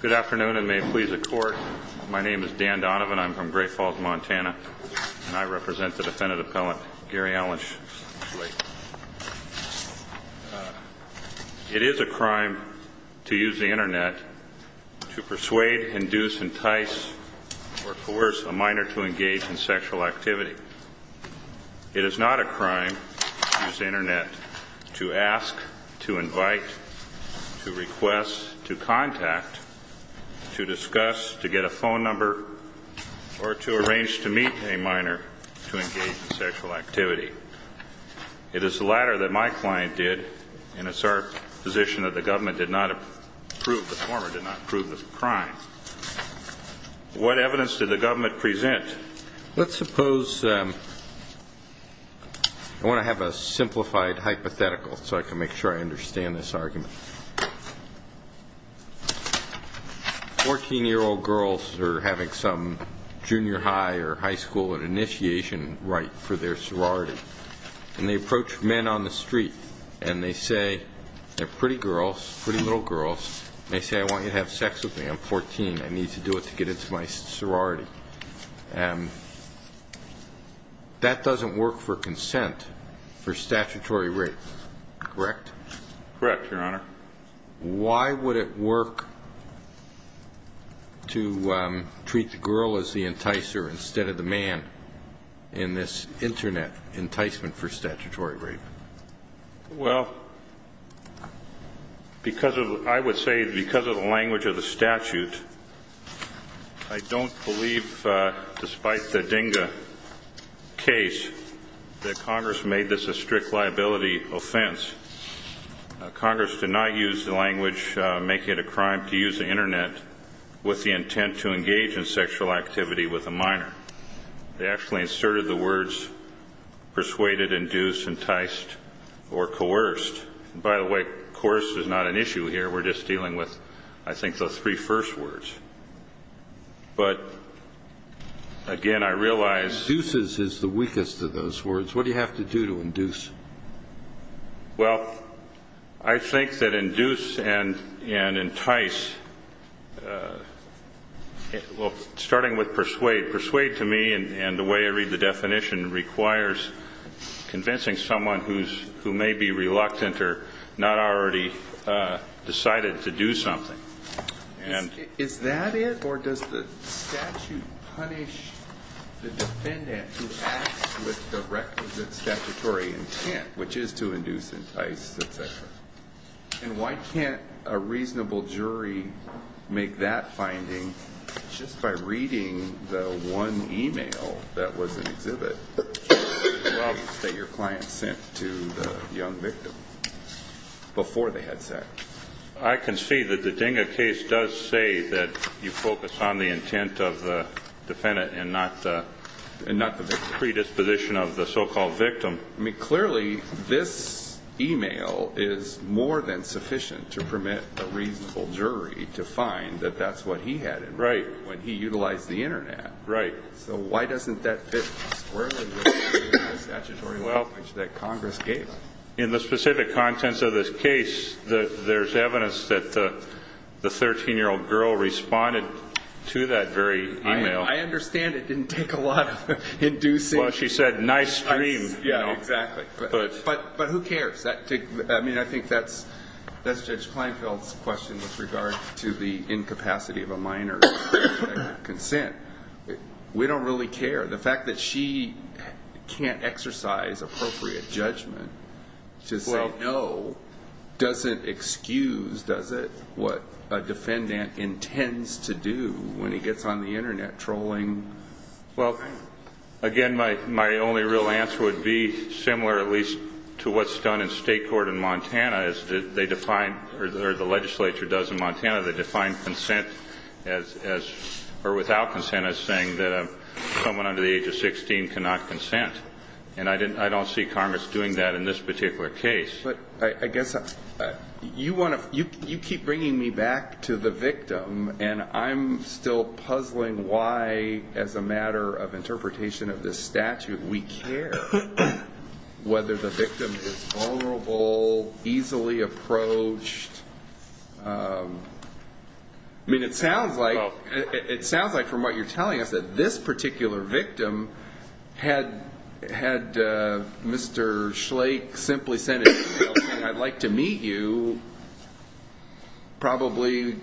Good afternoon and may it please the Court, my name is Dan Donovan, I'm from Great Falls, Montana, and I represent the Defendant Appellant Gary Allen Schlake. It is a crime to use the Internet to persuade, induce, entice, or coerce a minor to engage in sexual activity. It is not a crime to use the Internet to ask, to invite, to request, to contact, to discuss, to get a phone number, or to arrange to meet a minor to engage in sexual activity. It is the latter that my client did, and it's our position that the government did not approve the former, did not approve of the crime. What evidence did the government present? Let's suppose, I want to have a simplified hypothetical so I can make sure I understand this argument. 14-year-old girls are having some junior high or high school initiation rite for their sorority, and they approach men on the street, and they say, they're pretty girls, pretty little girls, and they say, I want you to have sex with me, I'm 14, I want you to have sex with me. That doesn't work for consent for statutory rape, correct? Correct, Your Honor. Why would it work to treat the girl as the enticer instead of the man in this Internet enticement for statutory rape? Well, because of, I would say, because of the language of the DINGA case, that Congress made this a strict liability offense. Congress did not use the language, make it a crime to use the Internet with the intent to engage in sexual activity with a minor. They actually inserted the words persuaded, induced, enticed, or coerced. By the way, coerced is not an issue here, we're just dealing with, I think, those three first words. But, again, I realize. Induces is the weakest of those words. What do you have to do to induce? Well, I think that induce and entice, well, starting with persuade, persuade to me, and the way I read the definition, requires convincing someone who's, who may be reluctant to enter, not already decided to do something. Is that it? Or does the statute punish the defendant who acts with the requisite statutory intent, which is to induce, entice, etc.? And why can't a reasonable jury make that before the headset? I can see that the DINGA case does say that you focus on the intent of the defendant and not the predisposition of the so-called victim. I mean, clearly, this e-mail is more than sufficient to permit a reasonable jury to find that that's what he had in mind when he utilized the Internet. Right. So why doesn't that fit squarely with the statutory language that Congress gave? In the specific contents of this case, there's evidence that the 13-year-old girl responded to that very e-mail. I understand it didn't take a lot of inducing. Well, she said, nice dream. Yeah, exactly. But who cares? I mean, I think that's Judge Kleinfeld's question with regard to the incapacity of a minor to expect consent. We don't really care. The fact that she can't exercise appropriate judgment to say no doesn't excuse, does it, what a defendant intends to do when he gets on the Internet trolling? Well, again, my only real answer would be similar, at least, to what's done in state court in Montana, as they define, or the legislature does in Montana, they define consent as, or without consent as saying that someone under the age of 16 cannot consent. And I don't see Congress doing that in this particular case. But I guess you want to, you keep bringing me back to the victim, and I'm still puzzling why, as a matter of interpretation of this whole easily approached, I mean, it sounds like from what you're telling us that this particular victim had Mr. Schlaich simply sent an e-mail saying, I'd like to meet you, probably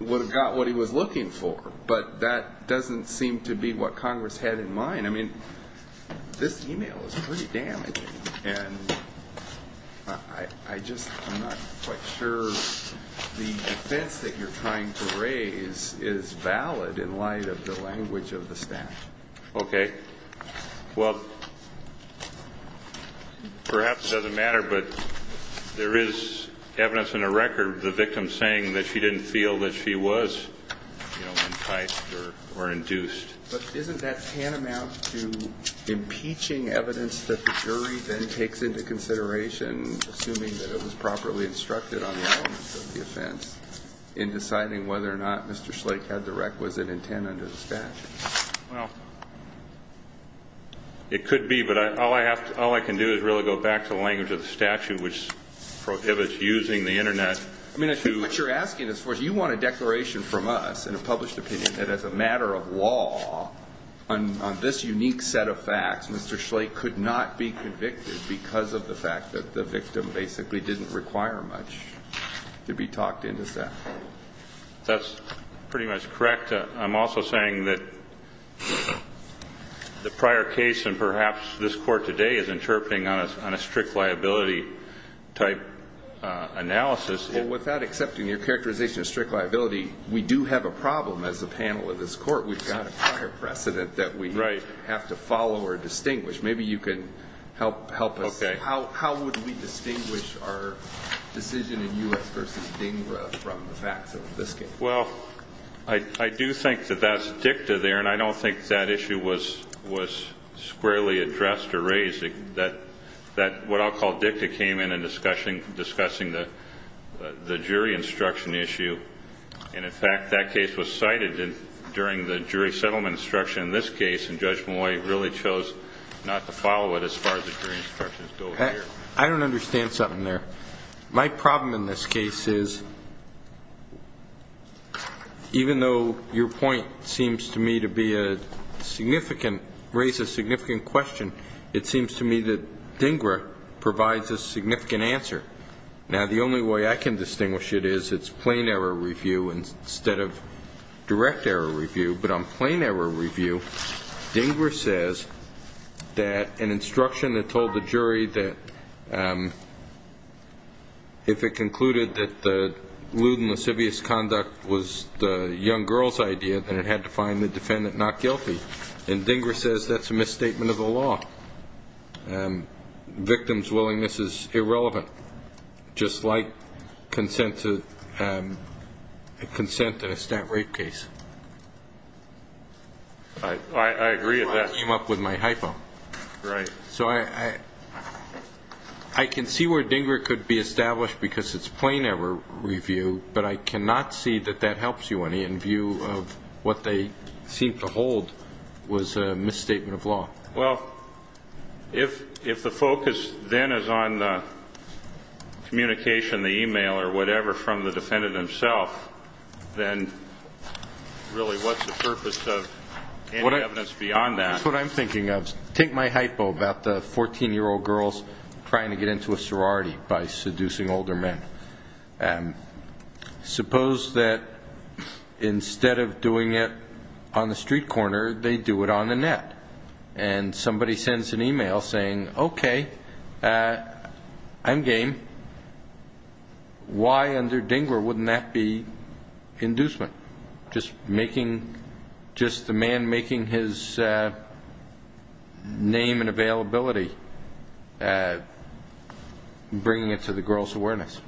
would have got what he was looking for. But that doesn't seem to be what Congress had in mind. I mean, that e-mail is pretty damaging. And I just, I'm not quite sure the defense that you're trying to raise is valid in light of the language of the statute. Okay. Well, perhaps it doesn't matter, but there is evidence in the record of the victim saying that she didn't feel that she was, you know, Well, it could be, but all I have to, all I can do is really go back to the language of the statute, which prohibits using the Internet. I mean, I think what you're asking as far as, you want a declaration from us in a published opinion that as a matter of law, on this unique set of facts, Mr. Schlaich could not be convicted because of the fact that the victim basically didn't require much to be talked into that. That's pretty much correct. I'm also saying that the prior case, and perhaps this Court today is interpreting on a strict liability type analysis. Well, without accepting your characterization of strict liability, we do have a problem as a panel of this Court. We've got a prior precedent that we have to follow or distinguish. Maybe you can help us. How would we distinguish our decision in U.S. v. DINGRA from the facts of this case? Well, I do think that that's dicta there, and I don't think that issue was squarely addressed or raised. That what I'll call dicta came in in discussing the jury instruction issue. And, in fact, that case was cited during the jury settlement instruction in this case, and Judge Moy really chose not to follow it as far as the jury instructions go here. I don't understand something there. My problem in this case is, even though your point seems to me to be a significant, raise a significant question, it seems to me that DINGRA provides a significant answer. Now, the only way I can distinguish it is it's plain error review instead of direct error review. But on plain error review, DINGRA says that an instruction that told the jury that if it concluded that the lewd and lascivious conduct was the young girl's idea, then it had to find the defendant not guilty. And DINGRA says that's a misstatement of the law. Victim's willingness is irrelevant, just like consent in a stat rape case. I agree with that. That came up with my hypo. Right. So I can see where DINGRA could be established because it's plain error review, but I cannot see that that helps you any in view of what they seem to hold was a misstatement of law. Well, if the focus then is on the communication, the e-mail or whatever from the defendant himself, then really what's the purpose of any evidence beyond that? That's what I'm thinking of. Take my hypo about the 14-year-old girls trying to get into a sorority by seducing older men. Suppose that instead of doing it on the street corner, they do it on the net. And somebody sends an e-mail saying, okay, I'm game. Why under DINGRA wouldn't that be inducement, just the man making his name and availability, bringing it to the girls' awareness?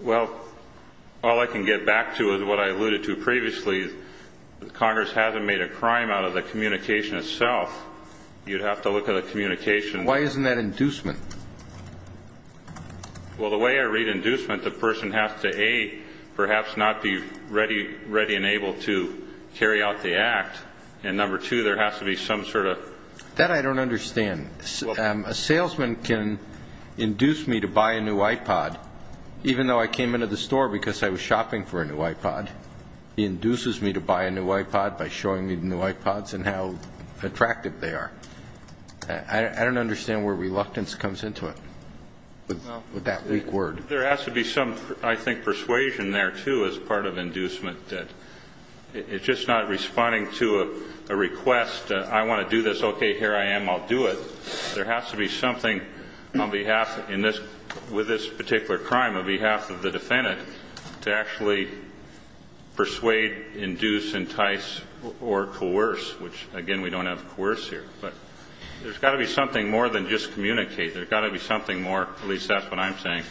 Well, all I can get back to is what I alluded to previously. Congress hasn't made a crime out of the communication itself. You'd have to look at the communication. Why isn't that inducement? Well, the way I read inducement, the person has to, A, perhaps not be ready and able to carry out the act. And number two, there has to be some sort of. That I don't understand. A salesman can induce me to buy a new iPod, even though I came into the store because I was shopping for a new iPod. He induces me to buy a new iPod by showing me the new iPods and how attractive they are. I don't understand where reluctance comes into it, with that weak word. There has to be some, I think, persuasion there, too, as part of inducement. It's just not responding to a request. I want to do this. Okay, here I am. I'll do it. There has to be something on behalf, with this particular crime, on behalf of the defendant, to actually persuade, induce, entice, or coerce, which, again, we don't have coerce here. But there's got to be something more than just communicate. There's got to be something more, at least that's what I'm saying,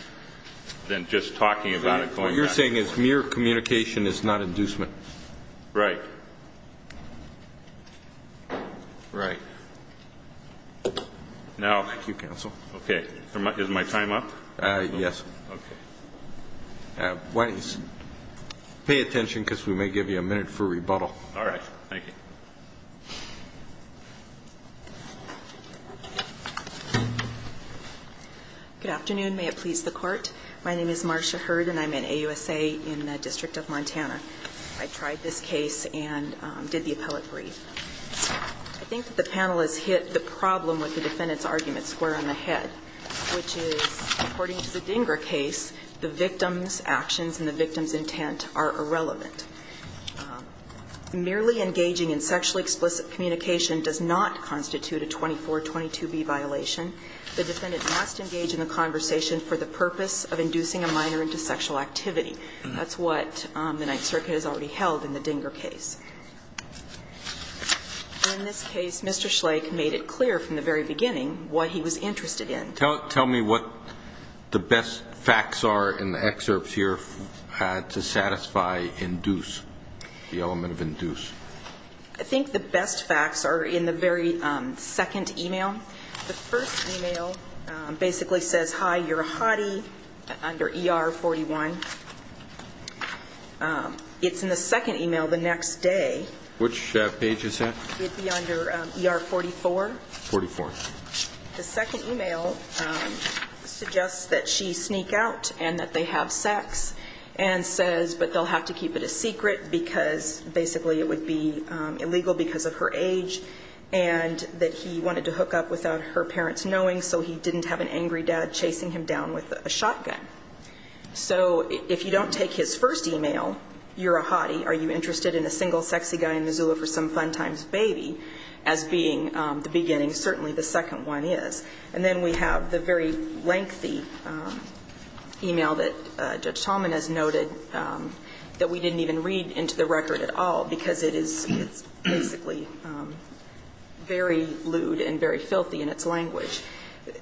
than just talking about it. What you're saying is mere communication is not inducement. Right. Right. Now. Thank you, counsel. Okay. Is my time up? Yes. Okay. Why don't you pay attention, because we may give you a minute for rebuttal. All right. Thank you. Good afternoon. May it please the Court. My name is Marcia Hurd, and I'm in AUSA in the District of Montana. I tried this case and did the appellate brief. I think that the panel has hit the problem with the defendant's argument square on the head, which is, according to the Dinger case, the victim's actions and the victim's intent are irrelevant. Merely engaging in sexually explicit communication does not constitute a 2422B violation. The defendant must engage in the conversation for the purpose of inducing a minor into sexual activity. That's what the Ninth Circuit has already held in the Dinger case. In this case, Mr. Schlake made it clear from the very beginning what he was interested in. Tell me what the best facts are in the excerpts here to satisfy induce, the element of induce. I think the best facts are in the very second e-mail. The first e-mail basically says, hi, you're a hottie, under ER 41. It's in the second e-mail the next day. Which page is that? It'd be under ER 44. 44. The second e-mail suggests that she sneak out and that they have sex and says, but they'll have to keep it a secret because basically it would be illegal because of her age and that he wanted to hook up without her parents knowing, so he didn't have an angry dad chasing him down with a shotgun. So if you don't take his first e-mail, you're a hottie, are you interested in a single sexy guy in Missoula for some fun time's baby, as being the beginning, certainly the second one is. And then we have the very lengthy e-mail that Judge Tallman has noted that we didn't even read into the record at all because it is basically very lewd and very filthy in its language.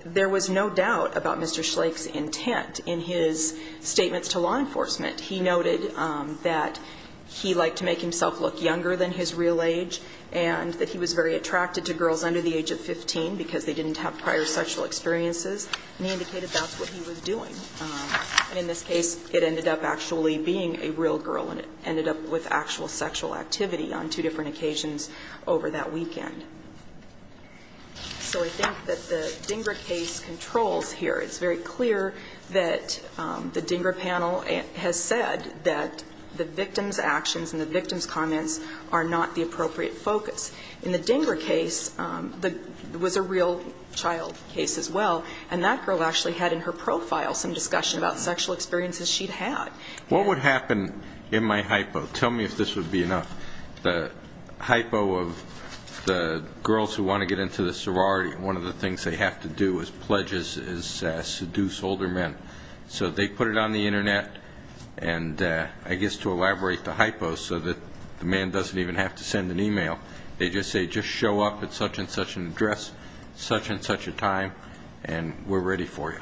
There was no doubt about Mr. Schlaich's intent in his statements to law enforcement. He noted that he liked to make himself look younger than his real age and that he was very attracted to girls under the age of 15 because they didn't have prior sexual experiences, and he indicated that's what he was doing. And in this case, it ended up actually being a real girl and it ended up with actual sexual activity on two different occasions over that weekend. So I think that the DINGRA case controls here. It's very clear that the DINGRA panel has said that the victim's actions and the victim's comments are not the appropriate focus. In the DINGRA case, it was a real child case as well, and that girl actually had in her profile some discussion about sexual experiences she'd had. What would happen in my hypo? Tell me if this would be enough. The hypo of the girls who want to get into the sorority, one of the things they have to do is pledge to seduce older men. So they put it on the Internet, and I guess to elaborate the hypo so that the man doesn't even have to send an e-mail, they just say, just show up at such and such an address, such and such a time, and we're ready for you.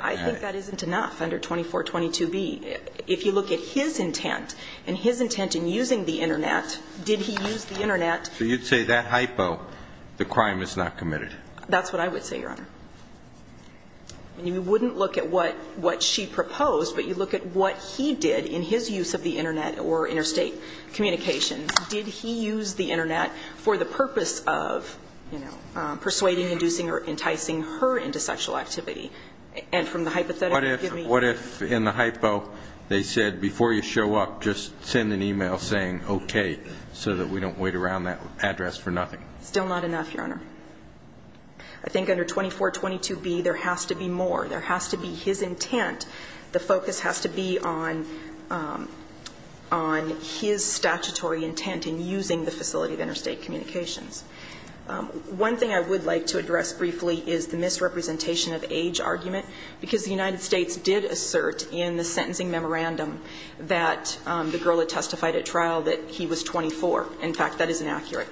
I think that isn't enough under 2422B. If you look at his intent and his intent in using the Internet, did he use the Internet? So you'd say that hypo, the crime is not committed. That's what I would say, Your Honor. And you wouldn't look at what she proposed, but you look at what he did in his use of the Internet or interstate communications. Did he use the Internet for the purpose of, you know, persuading, inducing, or enticing her into sexual activity? And from the hypothetical, give me... What if in the hypo they said, before you show up, just send an e-mail saying, okay, so that we don't wait around that address for nothing? Still not enough, Your Honor. I think under 2422B there has to be more. There has to be his intent. The focus has to be on his statutory intent in using the facility of interstate communications. One thing I would like to address briefly is the misrepresentation of age argument, because the United States did assert in the sentencing memorandum that the girl had testified at trial that he was 24. In fact, that is inaccurate.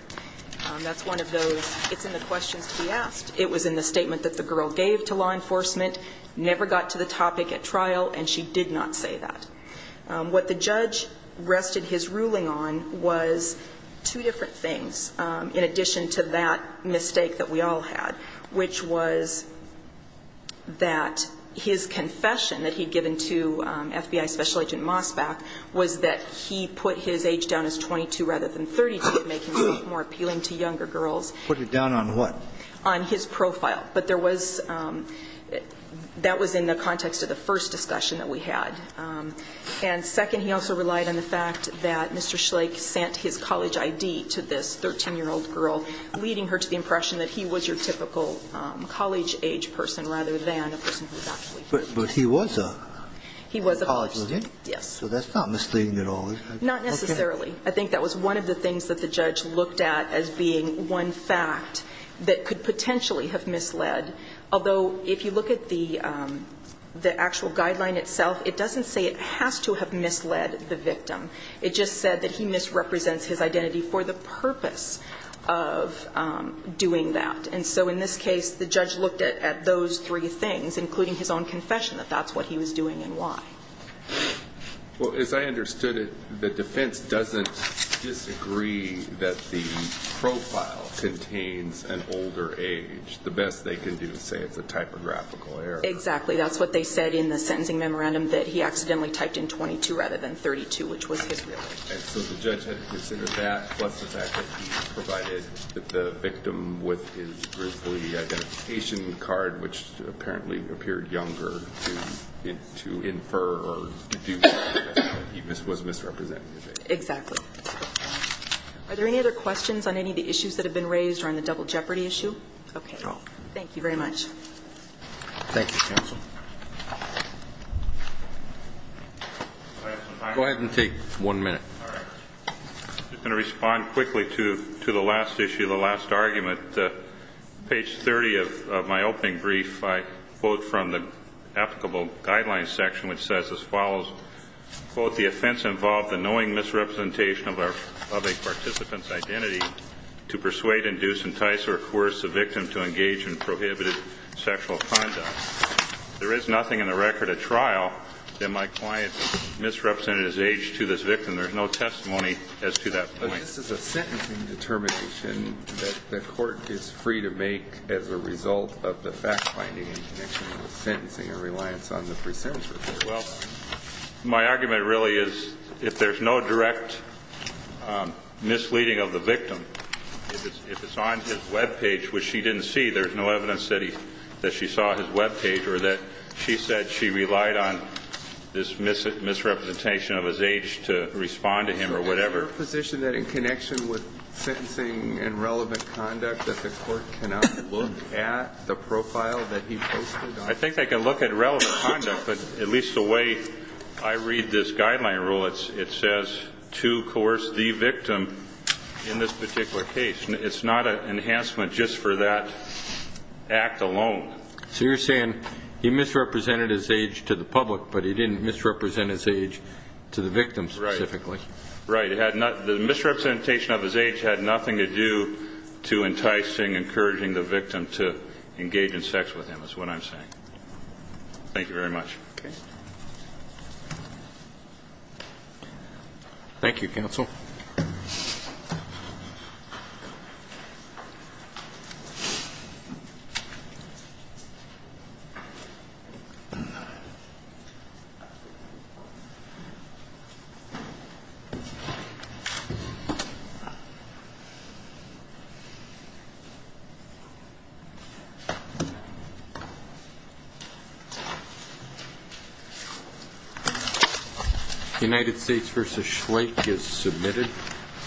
That's one of those, it's in the questions to be asked. It was in the statement that the girl gave to law enforcement, never got to the topic at trial, and she did not say that. What the judge rested his ruling on was two different things. In addition to that mistake that we all had, which was that his confession that he had given to FBI Special Agent Mosbach was that he put his age down as 22 rather than 32, making it more appealing to younger girls. Put it down on what? On his profile. But there was that was in the context of the first discussion that we had. And second, he also relied on the fact that Mr. Schlaich sent his college ID to this 13-year-old girl, leading her to the impression that he was your typical college-age person rather than a person who is actually. But he was a college student? Yes. So that's not misleading at all, is it? Not necessarily. I think that was one of the things that the judge looked at as being one fact that could potentially have misled. Although, if you look at the actual guideline itself, it doesn't say it has to have misled the victim. It just said that he misrepresents his identity for the purpose of doing that. And so in this case, the judge looked at those three things, including his own confession, that that's what he was doing and why. Well, as I understood it, the defense doesn't disagree that the profile contains an older age. The best they can do is say it's a typographical error. Exactly. That's what they said in the sentencing memorandum, that he accidentally typed in 22 rather than 32, which was his real age. And so the judge had to consider that plus the fact that he provided that the victim with his Grizzly identification card, which apparently appeared younger, to infer or deduce that he was misrepresenting his age. Exactly. Are there any other questions on any of the issues that have been raised or on the double jeopardy issue? Thank you very much. Thank you, counsel. Go ahead and take one minute. All right. I'm going to respond quickly to the last issue, the last argument. Page 30 of my opening brief, I quote from the applicable guidelines section, which says as follows, quote, the offense involved the knowing misrepresentation of a participant's identity to persuade, induce, entice, or coerce the victim to engage in prohibited sexual conduct. There is nothing in the record of trial that my client misrepresented his age to this victim. There's no testimony as to that point. But this is a sentencing determination that the court is free to make as a result of the fact finding in connection with sentencing or reliance on the pre-sentence report. Well, my argument really is if there's no direct misleading of the victim, if it's on his web page, which she didn't see, there's no evidence that she saw his web page or that she said she relied on this misrepresentation of his age to respond to him or whatever. Is there a position that in connection with sentencing and relevant conduct that the court cannot look at the profile that he posted on? I think they can look at relevant conduct. But at least the way I read this guideline rule, it says to coerce the victim in this particular case. It's not an enhancement just for that act alone. So you're saying he misrepresented his age to the public, but he didn't misrepresent his age to the victim specifically. Right. The misrepresentation of his age had nothing to do to enticing, encouraging the victim to engage in sex with him is what I'm saying. Thank you very much. Okay. Thank you, counsel. Thank you.